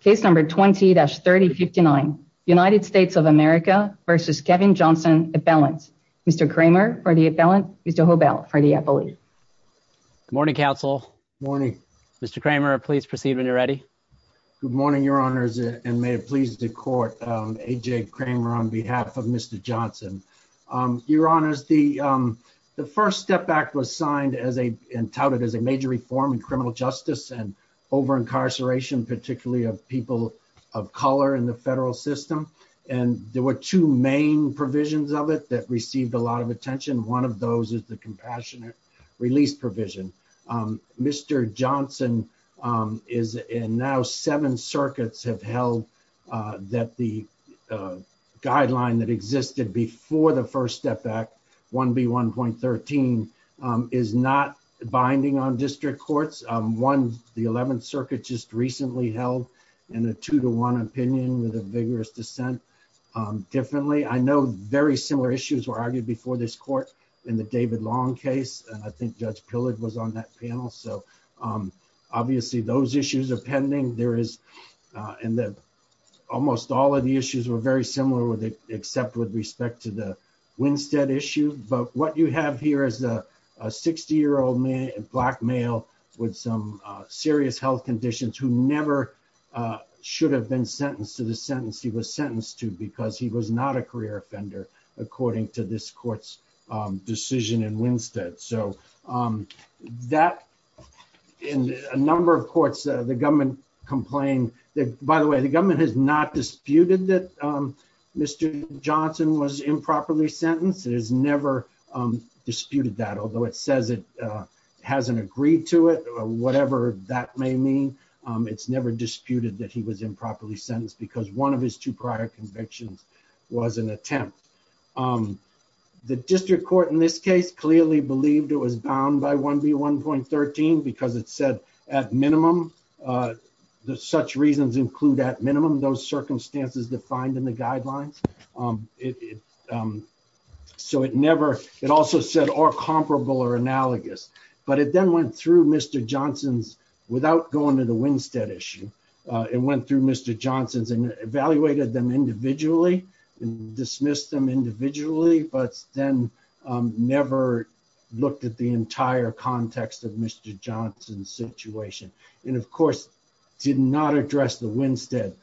case number 20-3059 United States of America v. Kevin Johnson appellant Mr. Kramer for the appellant Mr. Hobell for the appellate morning counsel morning mr. Kramer please proceed when you're ready good morning your honors and may it please the court AJ Kramer on behalf of mr. Johnson your honors the the first step back was signed as a and touted as a major reform in criminal justice and over incarceration particularly of people of color in the federal system and there were two main provisions of it that received a lot of attention one of those is the compassionate release provision mr. Johnson is in now seven circuits have held that the guideline that existed before the first step back 1b 1.13 is not binding on district courts one the 11th circuit just recently held in a two-to-one opinion with a vigorous dissent differently I know very similar issues were argued before this court in the David Long case and I think judge Pillard was on that panel so obviously those issues are pending there is and that almost all of the issues were very similar with it with respect to the Winstead issue but what you have here is a 60 year old man and black male with some serious health conditions who never should have been sentenced to the sentence he was sentenced to because he was not a career offender according to this courts decision in Winstead so that in a number of courts the government complained that by the way the government has not and was improperly sentenced it has never disputed that although it says it hasn't agreed to it whatever that may mean it's never disputed that he was improperly sentenced because one of his two prior convictions was an attempt the district court in this case clearly believed it was bound by 1b 1.13 because it said at minimum the such reasons include at minimum those circumstances defined in the guidelines so it never it also said or comparable or analogous but it then went through mr. Johnson's without going to the Winstead issue it went through mr. Johnson's and evaluated them individually and dismissed them individually but then never looked at the entire context of mr. Johnson's situation and of course did not address the Winstead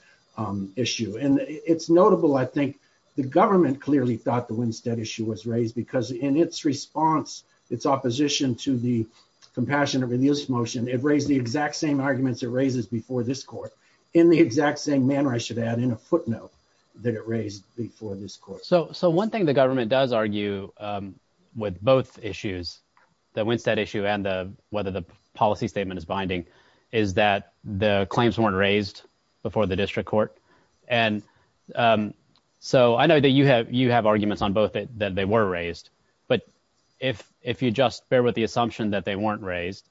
issue and it's notable I think the government clearly thought the Winstead issue was raised because in its response its opposition to the compassionate reduce motion it raised the exact same arguments it raises before this court in the exact same manner I should add in a footnote that it raised before this court so so one thing the government does argue with both issues the Winstead issue and the whether the policy statement is binding is that the claims weren't raised before the district court and so I know that you have you have arguments on both it that they were raised but if if you just bear with the assumption that they weren't raised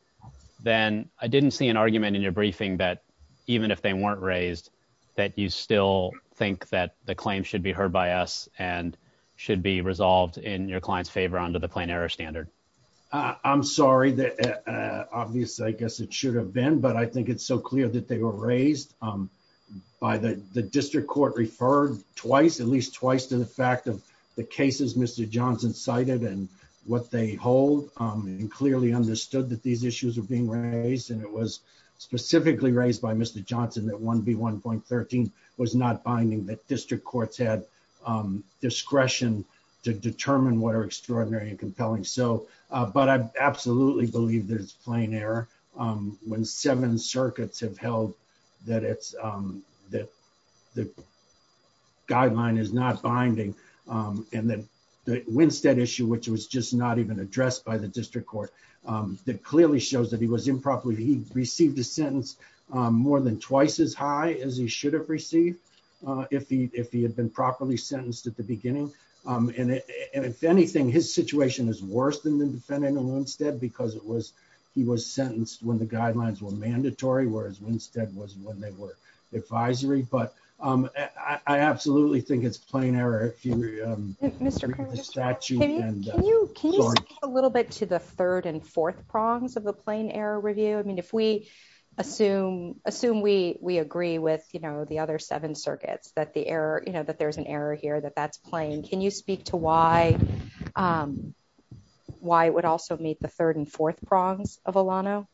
then I didn't see an argument in your briefing that even if they weren't raised that you still think that the claim should be heard by us and should be resolved in your clients favor under the plain error standard I'm sorry that obviously I guess it should have been but I think it's so clear that they were raised by the the district court referred twice at least twice to the fact of the cases mr. Johnson cited and what they hold and clearly understood that these issues are being raised and it was specifically raised by mr. Johnson that 1b 1.13 was not binding that district courts had discretion to believe there's plain error when seven circuits have held that it's that the guideline is not binding and then the Winstead issue which was just not even addressed by the district court that clearly shows that he was improperly he received a sentence more than twice as high as he should have received if he if he had been properly sentenced at the beginning and if anything his situation is worse than the defendant instead because it was he was sentenced when the guidelines were mandatory whereas Winstead was when they were advisory but I absolutely think it's plain error a little bit to the third and fourth prongs of the plain error review I mean if we assume assume we we agree with you know the other seven circuits that the error you know that there's an error here that that's playing can you speak to why why it would also meet the third and fourth prongs of Alano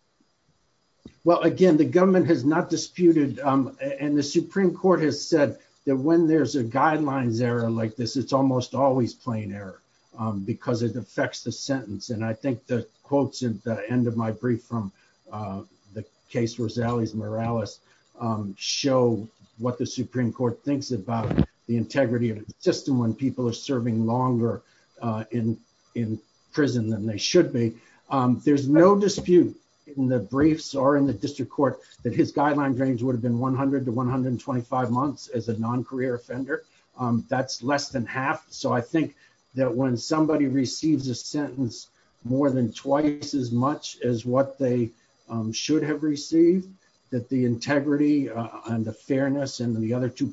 well again the government has not disputed and the Supreme Court has said that when there's a guidelines error like this it's almost always plain error because it affects the sentence and I think the quotes at the end of my brief from the case Rosales Morales show what the Supreme Court thinks about the integrity of the system when people are serving longer in in prison than they should be there's no dispute in the briefs or in the district court that his guideline range would have been 100 to 125 months as a non career offender that's less than half so I think that when somebody receives a sentence more than twice as much as what they should have received that the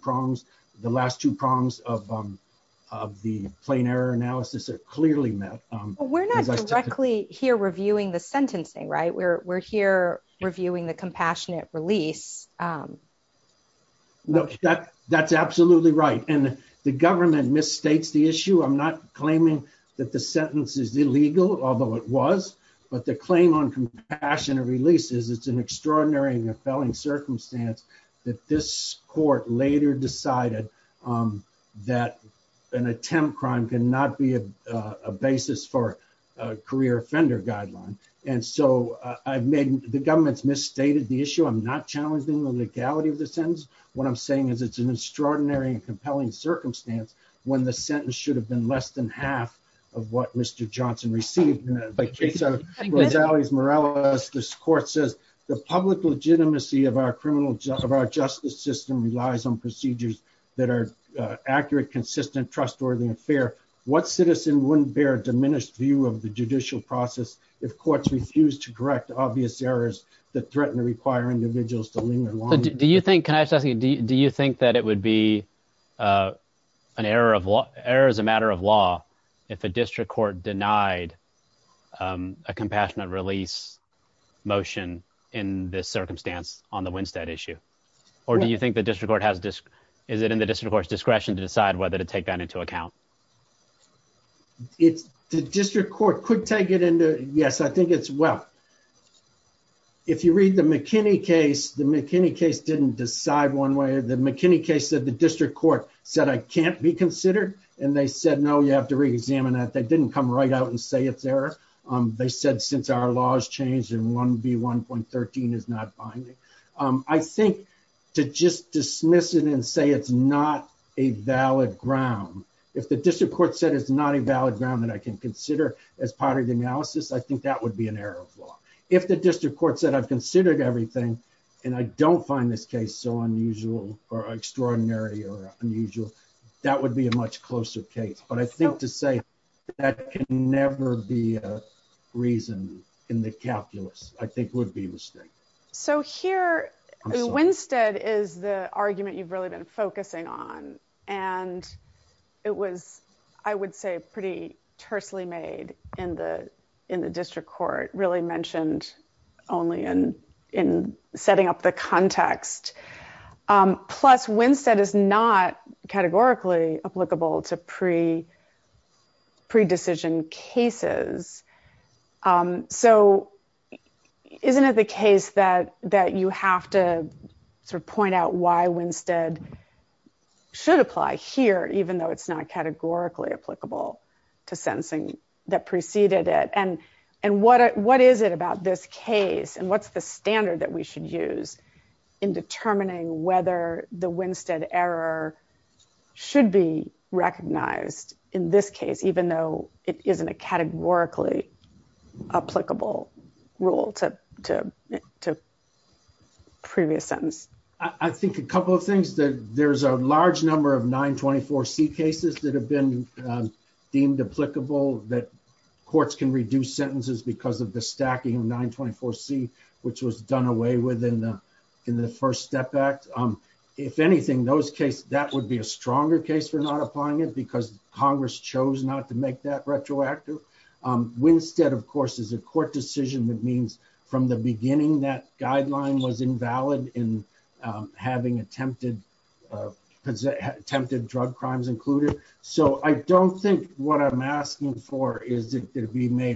prongs the last two prongs of the plain error analysis are clearly met we're not directly here reviewing the sentencing right we're here reviewing the compassionate release look that that's absolutely right and the government misstates the issue I'm not claiming that the sentence is illegal although it was but the claim on compassionate release is it's an extraordinary and we're decided that an attempt crime cannot be a basis for a career offender guideline and so I've made the government's misstated the issue I'm not challenging the legality of the sentence what I'm saying is it's an extraordinary and compelling circumstance when the sentence should have been less than half of what mr. Johnson received but he said it was always Morales this court says the public legitimacy of our criminal justice system relies on procedures that are accurate consistent trustworthy and fair what citizen wouldn't bear a diminished view of the judicial process if courts refuse to correct obvious errors that threaten to require individuals to do you think can I just ask you do you think that it would be an error of law error is a matter of law if a district court denied a compassionate release motion in this circumstance on the Winstead issue or do you think the district court has this is it in the district courts discretion to decide whether to take that into account it's the district court could take it into yes I think it's well if you read the McKinney case the McKinney case didn't decide one way the McKinney case that the district court said I can't be considered and they said no you have to reexamine that they didn't come right out and say it's there they said since our laws changed and 1b 1.13 is not binding I think to just dismiss it and say it's not a valid ground if the district court said it's not a valid ground that I can consider as part of the analysis I think that would be an error if the district court said I've considered everything and I don't find this case so unusual or extraordinary or usual that would be a much closer case but I think to say that can never be a reason in the calculus I think would be mistake so here Winstead is the argument you've really been focusing on and it was I would say pretty tersely made in the in the district court really mentioned only and in setting up the categorically applicable to pre pre decision cases so isn't it the case that that you have to sort of point out why Winstead should apply here even though it's not categorically applicable to sentencing that preceded it and and what what is it about this case and what's the standard that we should use in determining whether the Winstead error should be recognized in this case even though it isn't a categorically applicable rule to to to previous sentence I think a couple of things that there's a large number of 924 C cases that have been deemed applicable that courts can reduce sentences because of the stacking of 924 C which was done away with in the in the first step act if anything those case that would be a stronger case for not applying it because Congress chose not to make that retroactive Winstead of course is a court decision that means from the beginning that guideline was invalid in having attempted attempted drug crimes included so I don't think what I'm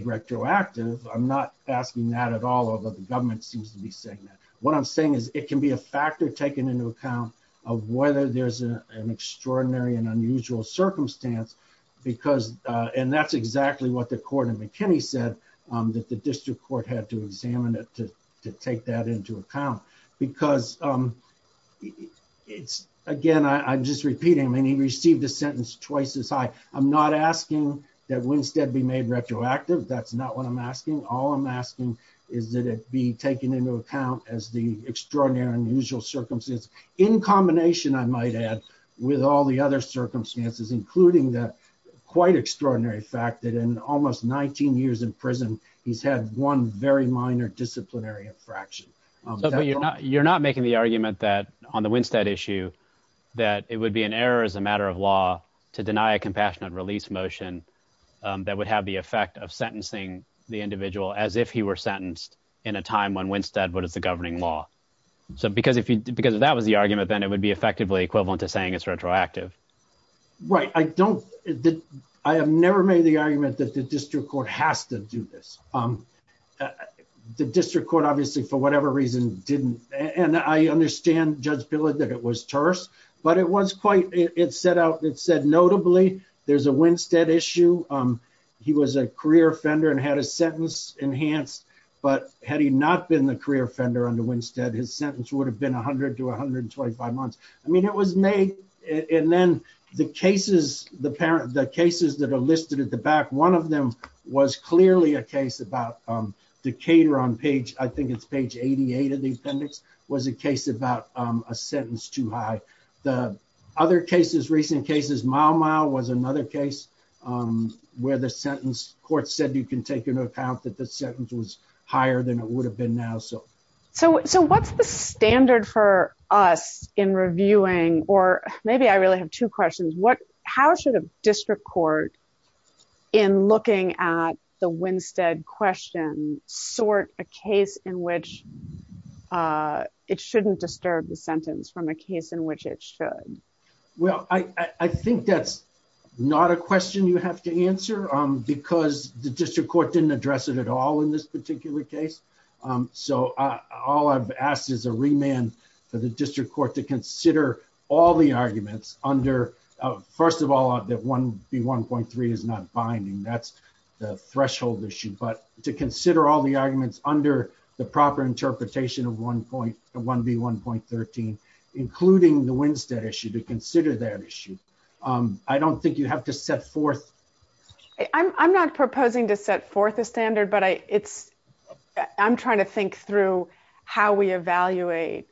retroactive I'm not asking that at all over the government seems to be saying that what I'm saying is it can be a factor taken into account of whether there's an extraordinary and unusual circumstance because and that's exactly what the court of McKinney said that the district court had to examine it to take that into account because it's again I'm just repeating I mean he received a sentence twice as high I'm not asking that Winstead be made retroactive that that's not what I'm asking all I'm asking is that it be taken into account as the extraordinary unusual circumstances in combination I might add with all the other circumstances including that quite extraordinary fact that in almost 19 years in prison he's had one very minor disciplinary infraction you're not you're not making the argument that on the Winstead issue that it would be an error as a matter of law to deny a compassionate release motion that would have the effect of sentencing the individual as if he were sentenced in a time when Winstead what is the governing law so because if you because that was the argument then it would be effectively equivalent to saying it's retroactive right I don't I have never made the argument that the district court has to do this the district court obviously for whatever reason didn't and I understand judge bill it that it was terse but it was quite it set out it said notably there's a Winstead issue he was a career offender and had a sentence enhanced but had he not been the career offender on the Winstead his sentence would have been a hundred to a hundred and twenty five months I mean it was made and then the cases the parent the cases that are listed at the back one of them was clearly a case about Decatur on page I other cases recent cases mile-mile was another case where the sentence court said you can take into account that the sentence was higher than it would have been now so so so what's the standard for us in reviewing or maybe I really have two questions what how should a district court in looking at the Winstead question sort a case in which it shouldn't disturb the sentence from a well I I think that's not a question you have to answer because the district court didn't address it at all in this particular case so all I've asked is a remand for the district court to consider all the arguments under first of all that one be 1.3 is not binding that's the threshold issue but to consider all the arguments under the proper interpretation of one point one be 1.13 including the Winstead issue to consider that issue I don't think you have to set forth I'm not proposing to set forth a standard but I it's I'm trying to think through how we evaluate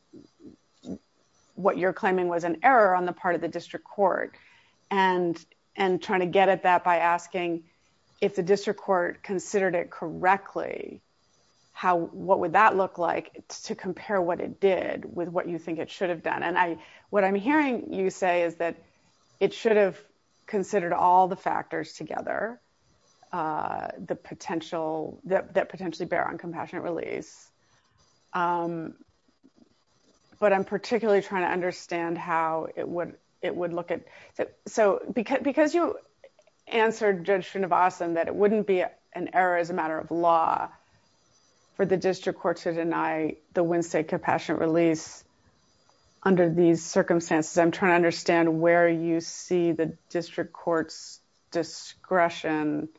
what you're claiming was an error on the part of the district court and and trying to get at that by asking if the district court considered it correctly how what would that look like to compare what it did with what you think it should have done and I what I'm hearing you say is that it should have considered all the factors together the potential that potentially bear on compassionate release but I'm particularly trying to understand how it would it would look at that so because because you answered judge Srinivasan that it wouldn't be an error as a matter of law for the district court to deny the Winstead compassionate release under these circumstances I'm trying to understand where you see the district courts discretion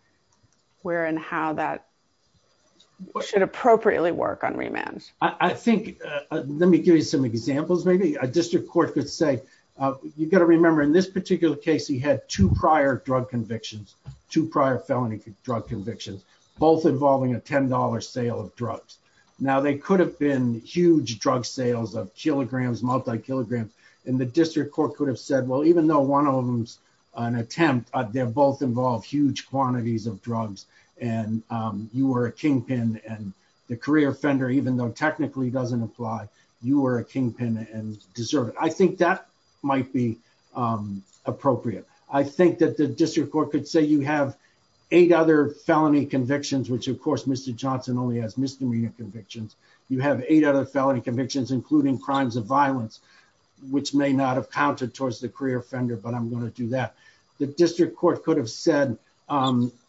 where and how that what should appropriately work on remand I think let me give you some examples maybe a district court could say you've got to remember in this particular case he had two prior drug convictions both involving a $10 sale of drugs now they could have been huge drug sales of kilograms multi kilograms and the district court could have said well even though one of them's an attempt they're both involved huge quantities of drugs and you were a kingpin and the career offender even though technically doesn't apply you were a kingpin and deserve it I think that might be appropriate I think that the district court could say you have eight other felony convictions which of course mr. Johnson only has misdemeanor convictions you have eight other felony convictions including crimes of violence which may not have counted towards the career offender but I'm going to do that the district court could have said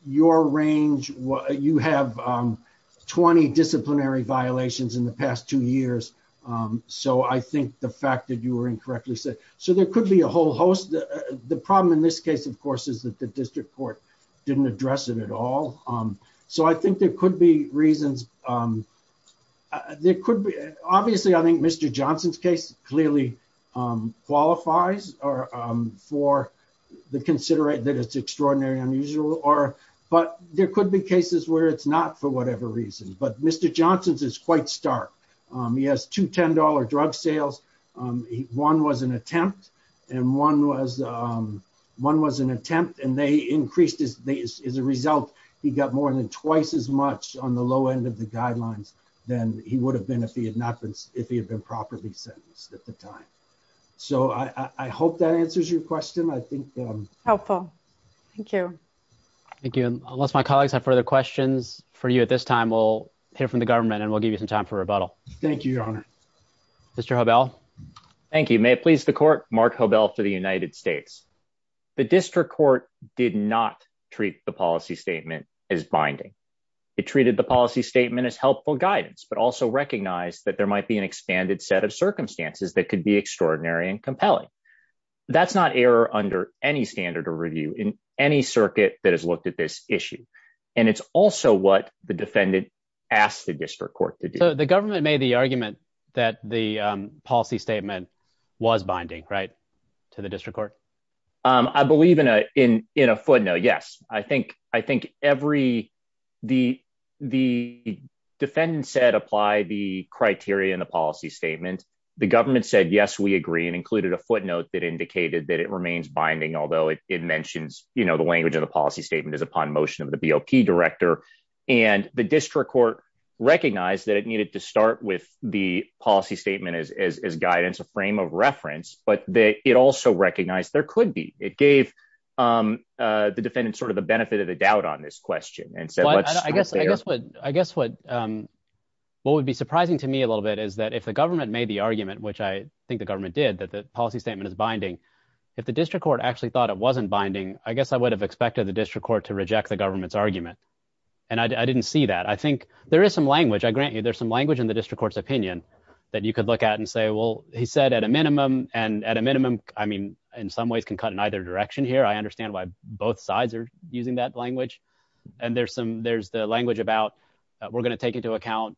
your range what you have 20 disciplinary violations in the past two years so I think the fact that you were incorrectly said so there could be a whole host the problem in this case of course is that the district court didn't address it at all so I think there could be reasons there could be obviously I think mr. Johnson's case clearly qualifies or for the considerate that it's extraordinary unusual or but there could be cases where it's not for whatever reason but mr. Johnson's is quite stark he has two increased as a result he got more than twice as much on the low end of the guidelines then he would have been if he had not been if he had been properly sentenced at the time so I hope that answers your question I think helpful thank you thank you unless my colleagues have further questions for you at this time we'll hear from the government and we'll give you some time for rebuttal thank you your honor mr. hobel thank you may it please the court mark hobel for did not treat the policy statement as binding it treated the policy statement as helpful guidance but also recognized that there might be an expanded set of circumstances that could be extraordinary and compelling that's not error under any standard of review in any circuit that has looked at this issue and it's also what the defendant asked the district court to do the government made the argument that the policy statement was binding right to the district court I believe in a in in a footnote yes I think I think every the the defendant said apply the criteria in the policy statement the government said yes we agree and included a footnote that indicated that it remains binding although it mentions you know the language of the policy statement is upon motion of the BLT director and the district court recognized that it needed to start with the policy statement as guidance a frame of reference but that it also recognized there could be it gave the defendant sort of the benefit of the doubt on this question and so I guess I guess what I guess what what would be surprising to me a little bit is that if the government made the argument which I think the government did that the policy statement is binding if the district court actually thought it wasn't binding I guess I would have expected the district court to reject the government's argument and I didn't see that I think there is some language I grant you there's some language in the district court's opinion that you could look at and say well he said at a minimum and at a minimum I mean in some ways can cut in either direction here I understand why both sides are using that language and there's some there's the language about we're gonna take into account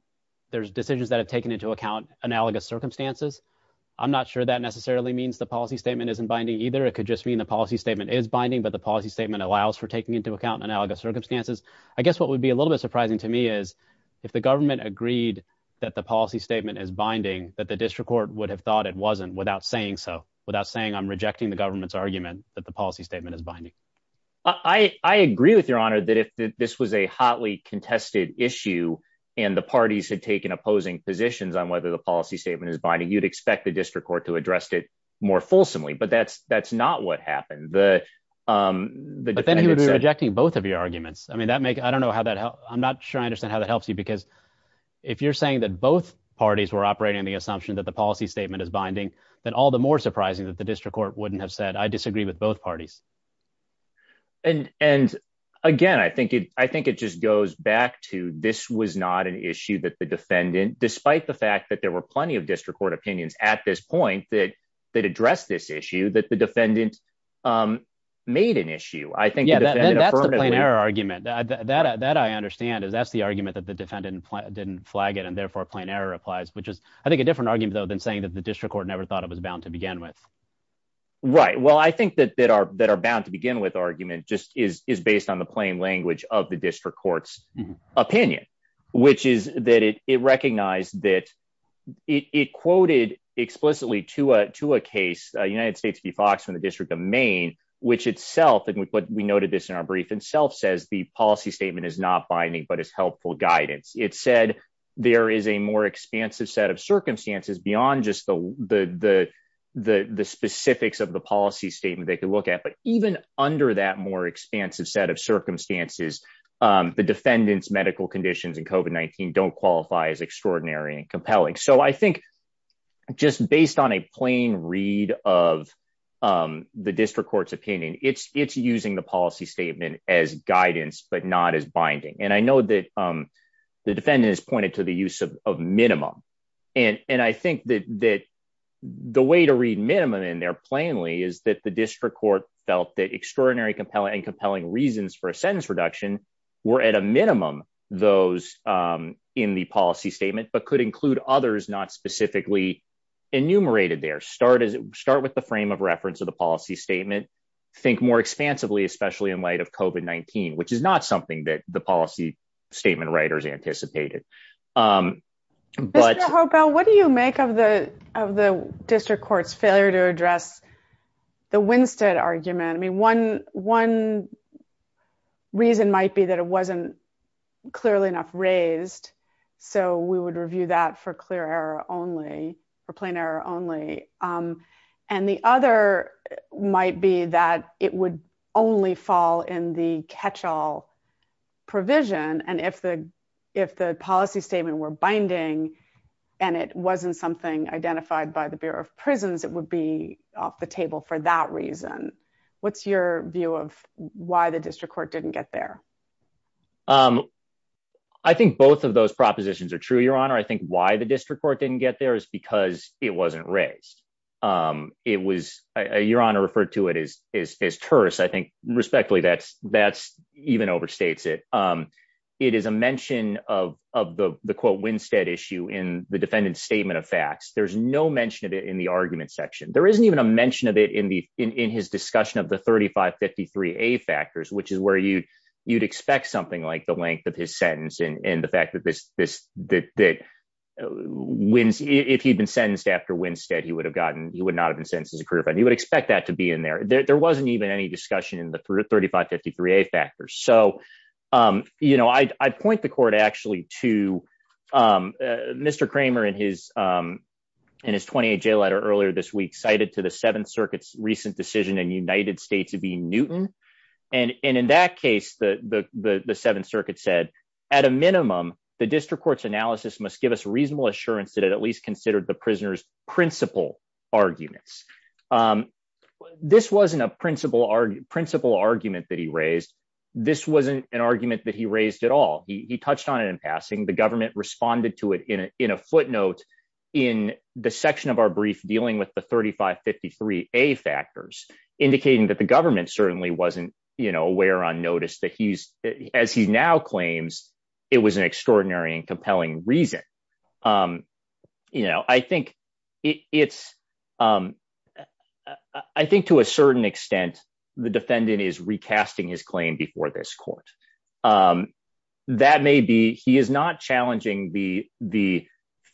there's decisions that have taken into account analogous circumstances I'm not sure that necessarily means the policy statement isn't binding either it could just mean the policy statement is binding but the policy statement allows for taking into account analogous circumstances I guess what would be a little bit surprising to me is if the government agreed that the policy statement is binding that the I would be surprised if the district court would have said no I'm not saying so without saying I'm rejecting the government's argument that the policy statement is binding I agree with your honor that if this was a hotly contested issue and the parties had taken opposing positions on whether the policy statement is binding you'd expect the district court to address it more fulsomely but that's that's not what happened the then he would be rejecting both of your arguments I mean that make I don't know how that help I'm not sure I don't know how that helps you because if you're saying that both parties were operating the assumption that the policy statement is binding then all the more surprising that the district court wouldn't have said I disagree with both parties and and again I think it I think it just goes back to this was not an issue that the defendant despite the fact that there were plenty of district court opinions at this point that that addressed this issue that the defendant made an issue I think that argument that that I understand is that's the argument that the defendant didn't flag it and therefore a plain error applies which is I think a different argument though than saying that the district court never thought it was bound to begin with right well I think that that are that are bound to begin with argument just is is based on the plain language of the district courts opinion which is that it recognized that it quoted explicitly to a to a case United States v Fox from the District of Maine which itself and with what we noted this in our brief itself says the policy statement is not binding but it's helpful guidance it said there is a more expansive set of circumstances beyond just the the the the specifics of the policy statement they could look at but even under that more expansive set of circumstances the defendants medical conditions and COVID-19 don't qualify as extraordinary and compelling so I think just based on a plain read of the district courts opinion it's it's using the policy statement as guidance but not as binding and I know that the defendant is pointed to the use of minimum and and I think that that the way to read minimum in there plainly is that the district court felt that extraordinary compelling and compelling reasons for a sentence reduction were at a minimum those in the policy statement but could include others not specifically enumerated there start as it start with the frame of reference of policy statement think more expansively especially in light of COVID-19 which is not something that the policy statement writers anticipated well what do you make of the of the district courts failure to address the Winstead argument I mean one one reason might be that it wasn't clearly enough raised so we would might be that it would only fall in the catch-all provision and if the if the policy statement were binding and it wasn't something identified by the Bureau of Prisons it would be off the table for that reason what's your view of why the district court didn't get there I think both of those propositions are true your honor I think why the district court didn't get there is because it wasn't raised it was your honor referred to it as as tourists I think respectfully that's that's even overstates it it is a mention of the quote Winstead issue in the defendant's statement of facts there's no mention of it in the argument section there isn't even a mention of it in the in his discussion of the 3553 a factors which is where you you'd expect something like the length of his sentence and in the fact that this this that wins if he'd been sentenced after Winstead he would have gotten he would not have been sentenced as a career but he would expect that to be in there there wasn't even any discussion in the 3553 a factors so you know I'd point the court actually to mr. Kramer in his in his 28 jail letter earlier this week cited to the Seventh Circuit's recent decision in United States of E Newton and and in that case the the the Seventh Circuit said at a minimum the district court's analysis must give us reasonable assurance that it at least considered the prisoners principal arguments this wasn't a principal our principal argument that he raised this wasn't an argument that he raised at all he touched on it in passing the government responded to it in a footnote in the section of our brief dealing with the 3553 a factors indicating that the government certainly wasn't you know aware on notice that he's as he now claims it was an extraordinary and compelling reason you know I think it's I think to a certain extent the defendant is recasting his claim before this court that may be he is not challenging the the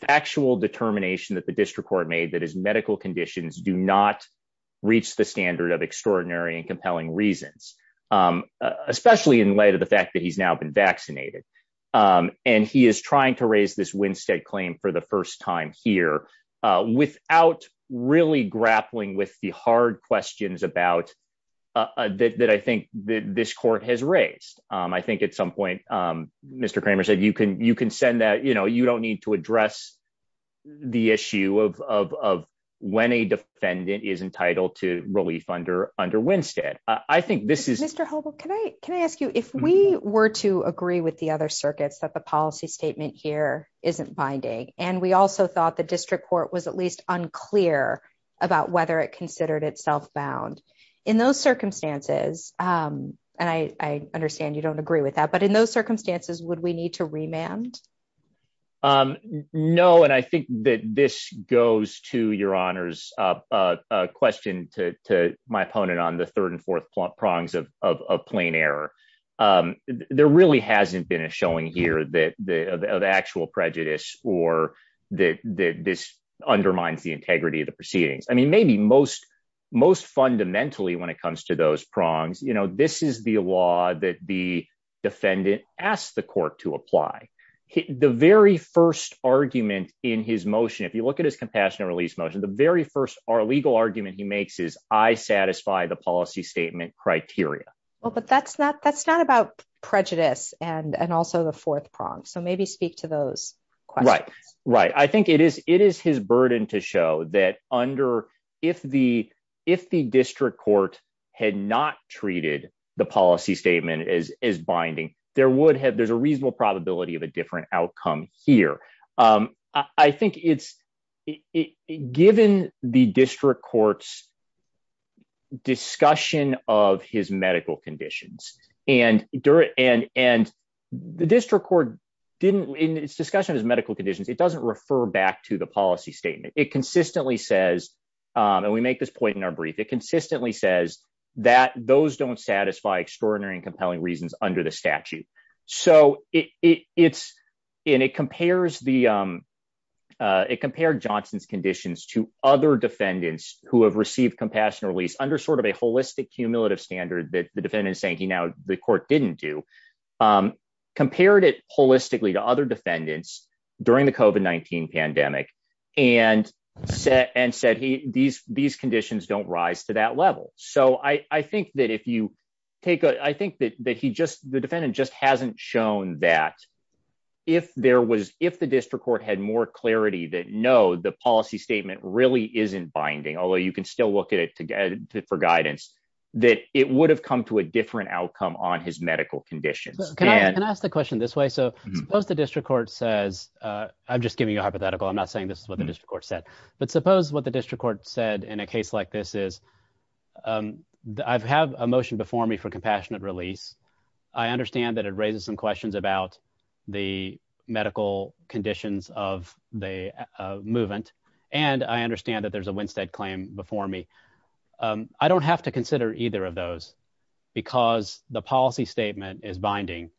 factual determination that the district court made that his medical conditions do not reach the standard of extraordinary and compelling reasons especially in light of the fact that he's now been vaccinated and he is trying to raise this Winstead claim for the first time here without really grappling with the hard questions about that I think that this court has raised I think at some point mr. Kramer said you can you can send that you know you don't need to relief under under Winstead I think this is mr. hobo can I can I ask you if we were to agree with the other circuits that the policy statement here isn't binding and we also thought the district court was at least unclear about whether it considered itself bound in those circumstances and I understand you don't agree with that but in those circumstances would we need to remand no and I think that this goes to your honors a question to my opponent on the third and fourth plump prongs of a plain error there really hasn't been a showing here that the actual prejudice or that this undermines the integrity of the proceedings I mean maybe most most fundamentally when it comes to those the very first argument in his motion if you look at his compassionate release motion the very first our legal argument he makes is I satisfy the policy statement criteria well but that's not that's not about prejudice and and also the fourth prong so maybe speak to those right right I think it is it is his burden to show that under if the if the district court had not treated the policy statement as is binding there would have there's a reasonable probability of a different outcome here I think it's given the district courts discussion of his medical conditions and during and and the district court didn't in its discussion of medical conditions it doesn't refer back to the policy statement it consistently says and we make this point in our brief it consistently says that those don't satisfy extraordinary and it's in it compares the it compared Johnson's conditions to other defendants who have received compassionate release under sort of a holistic cumulative standard that the defendant is saying he now the court didn't do compared it holistically to other defendants during the coven 19 pandemic and set and said he these these conditions don't rise to that level so I I think that if you take I think that that he just the defendant just hasn't shown that if there was if the district court had more clarity that no the policy statement really isn't binding although you can still look at it together for guidance that it would have come to a different outcome on his medical conditions can I ask the question this way so suppose the district court says I'm just giving you a hypothetical I'm not saying this is what the district court said but suppose what the district court said in a case like this is I've have a motion before me for compassionate release I understand that it raises some questions about the medical conditions of the movement and I understand that there's a Winstead claim before me I don't have to consider either of those because the policy statement is binding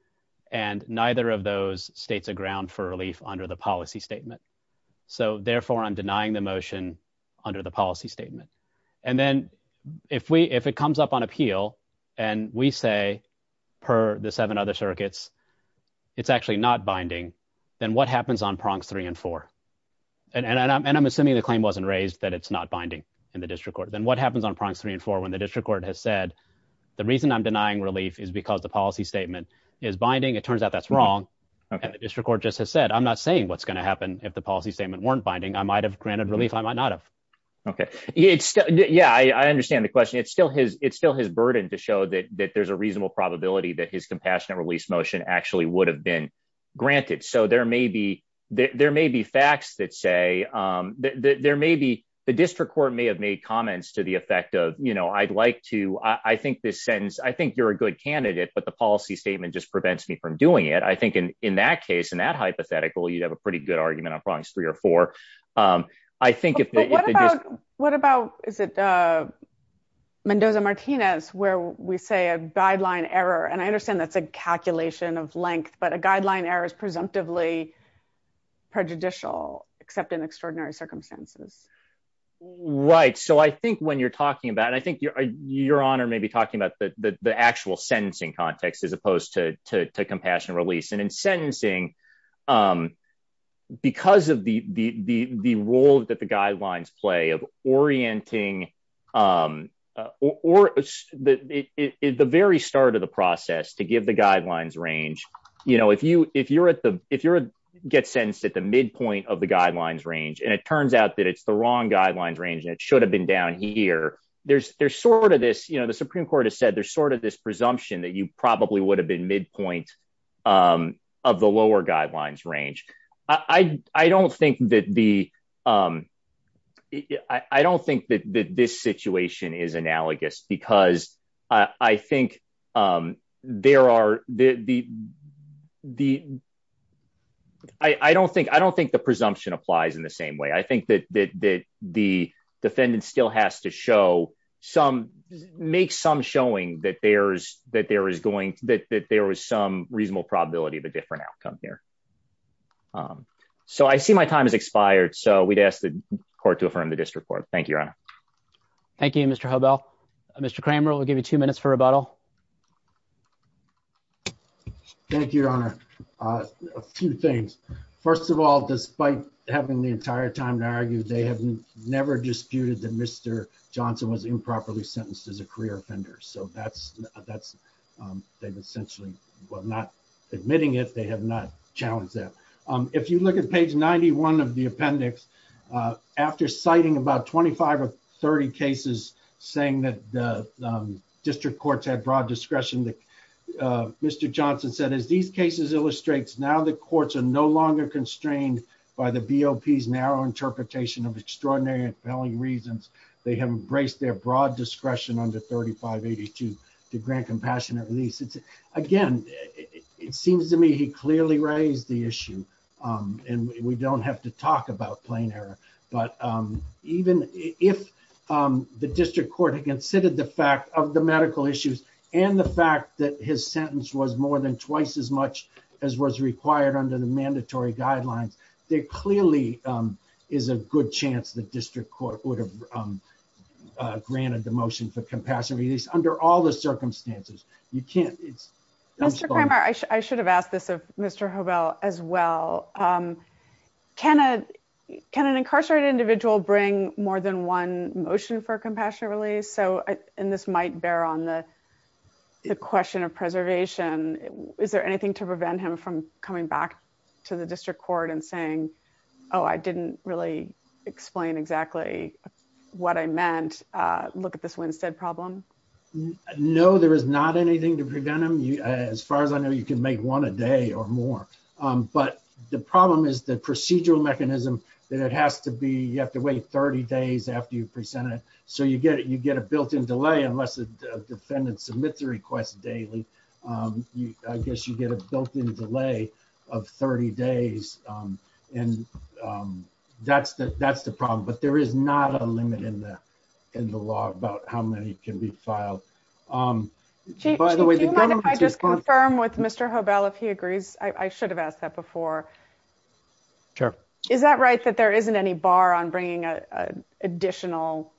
and neither of those states a ground for relief under the policy statement so therefore I'm denying the motion under the policy statement and then if we if it comes up on appeal and we say per the seven other circuits it's actually not binding then what happens on prongs three and four and and I'm assuming the claim wasn't raised that it's not binding in the district court then what happens on prongs three and four when the district court has said the reason I'm denying relief is because the policy statement is binding it turns out that's wrong district court just has said I'm not saying what's gonna happen if the policy statement weren't binding I might have it's yeah I understand the question it's still his it's still his burden to show that that there's a reasonable probability that his compassionate release motion actually would have been granted so there may be there may be facts that say that there may be the district court may have made comments to the effect of you know I'd like to I think this sentence I think you're a good candidate but the policy statement just prevents me from doing it I think in in that case in that hypothetical you'd have a pretty good argument on prongs three or four I think what about is it Mendoza Martinez where we say a guideline error and I understand that's a calculation of length but a guideline error is presumptively prejudicial except in extraordinary circumstances right so I think when you're talking about and I think your honor may be talking about the actual sentencing context as opposed to compassion release and in sentencing because of the the the role that the guidelines play of orienting or the very start of the process to give the guidelines range you know if you if you're at the if you're a get sentenced at the midpoint of the guidelines range and it turns out that it's the wrong guidelines range and it should have been down here there's there's sort of this you know the Supreme Court has said there's sort of this presumption that you probably would have been midpoint of the lower guidelines range I I don't think that the I don't think that this situation is analogous because I think there are the the I I don't think I don't think the presumption applies in the same way I think that the defendant still has to show some make some showing that there's that there is going that there was some reasonable probability of a different outcome here so I see my time is expired so we'd ask the court to affirm the district court thank you your honor Thank You mr. hobo mr. Cramer will give you two minutes for rebuttal thank you your honor a few things first of all despite having the entire time to argue they have never disputed that mr. Johnson was improperly sentenced as a career offender so that's that's they've essentially well not admitting it they have not challenged that if you look at page 91 of the appendix after citing about 25 or 30 cases saying that the district courts had broad discretion that mr. Johnson said as these cases illustrates now the courts are no longer constrained by the BOP's narrow interpretation of extraordinary compelling reasons they have embraced their broad discretion under 3582 to grant compassionate release it's again it seems to me he clearly raised the issue and we don't have to talk about plain error but even if the district court had considered the fact of the medical issues and the fact that his sentence was more than twice as much as was required under the mandatory guidelines there clearly is a good chance the district court would have granted the motion for compassion release under all the circumstances you can't it's mr. Kramer I should have asked this of mr. hobo as well can a can an incarcerated individual bring more than one motion for a compassionate release so and this might bear on the question of preservation is there anything to prevent him from coming back to the district court and saying oh I didn't really explain exactly what I meant look at this Winstead problem no there is not anything to prevent him you as far as I know you can make one a day or more but the problem is the procedural mechanism that it has to be you have to wait 30 days after you present it so you get it you get a built-in delay unless the defendant submits a request daily you I guess you get a built-in delay of 30 days and that's that that's the problem but there is not a limit in there and the law about how many can be filed by the way I just confirm with mr. hobo if he agrees I should have asked that before sure is that right that there isn't any bar on additional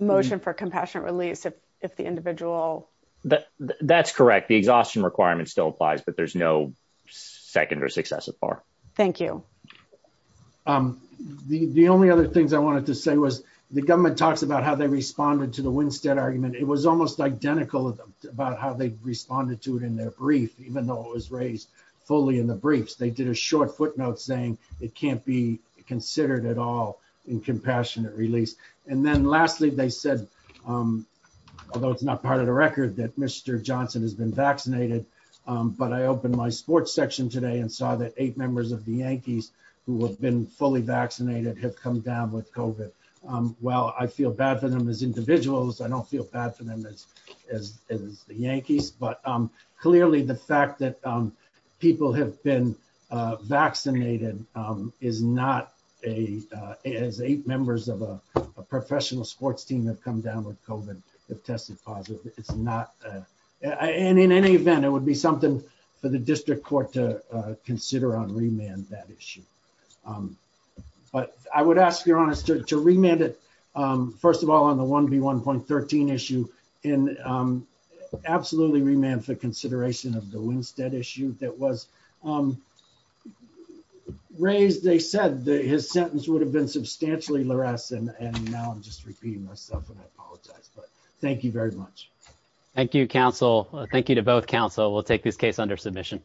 motion for compassionate release if the individual that that's correct the exhaustion requirement still applies but there's no second or successive bar thank you the only other things I wanted to say was the government talks about how they responded to the Winstead argument it was almost identical about how they responded to it in their brief even though it was raised fully in the briefs they did a short footnote saying it released and then lastly they said although it's not part of the record that mr. Johnson has been vaccinated but I opened my sports section today and saw that eight members of the Yankees who have been fully vaccinated have come down with COVID well I feel bad for them as individuals I don't feel bad for them as the Yankees but clearly the fact that people have been vaccinated is not a as eight members of a professional sports team have come down with COVID have tested positive it's not and in any event it would be something for the district court to consider on remand that issue but I would ask your honest to remand it first of all on the 1v1 point 13 issue in absolutely remand for consideration of the Winstead issue that was raised they said that his sentence would have been substantially less and now I'm just repeating myself and I apologize but thank you very much thank you counsel thank you to both counsel we'll take this case under submission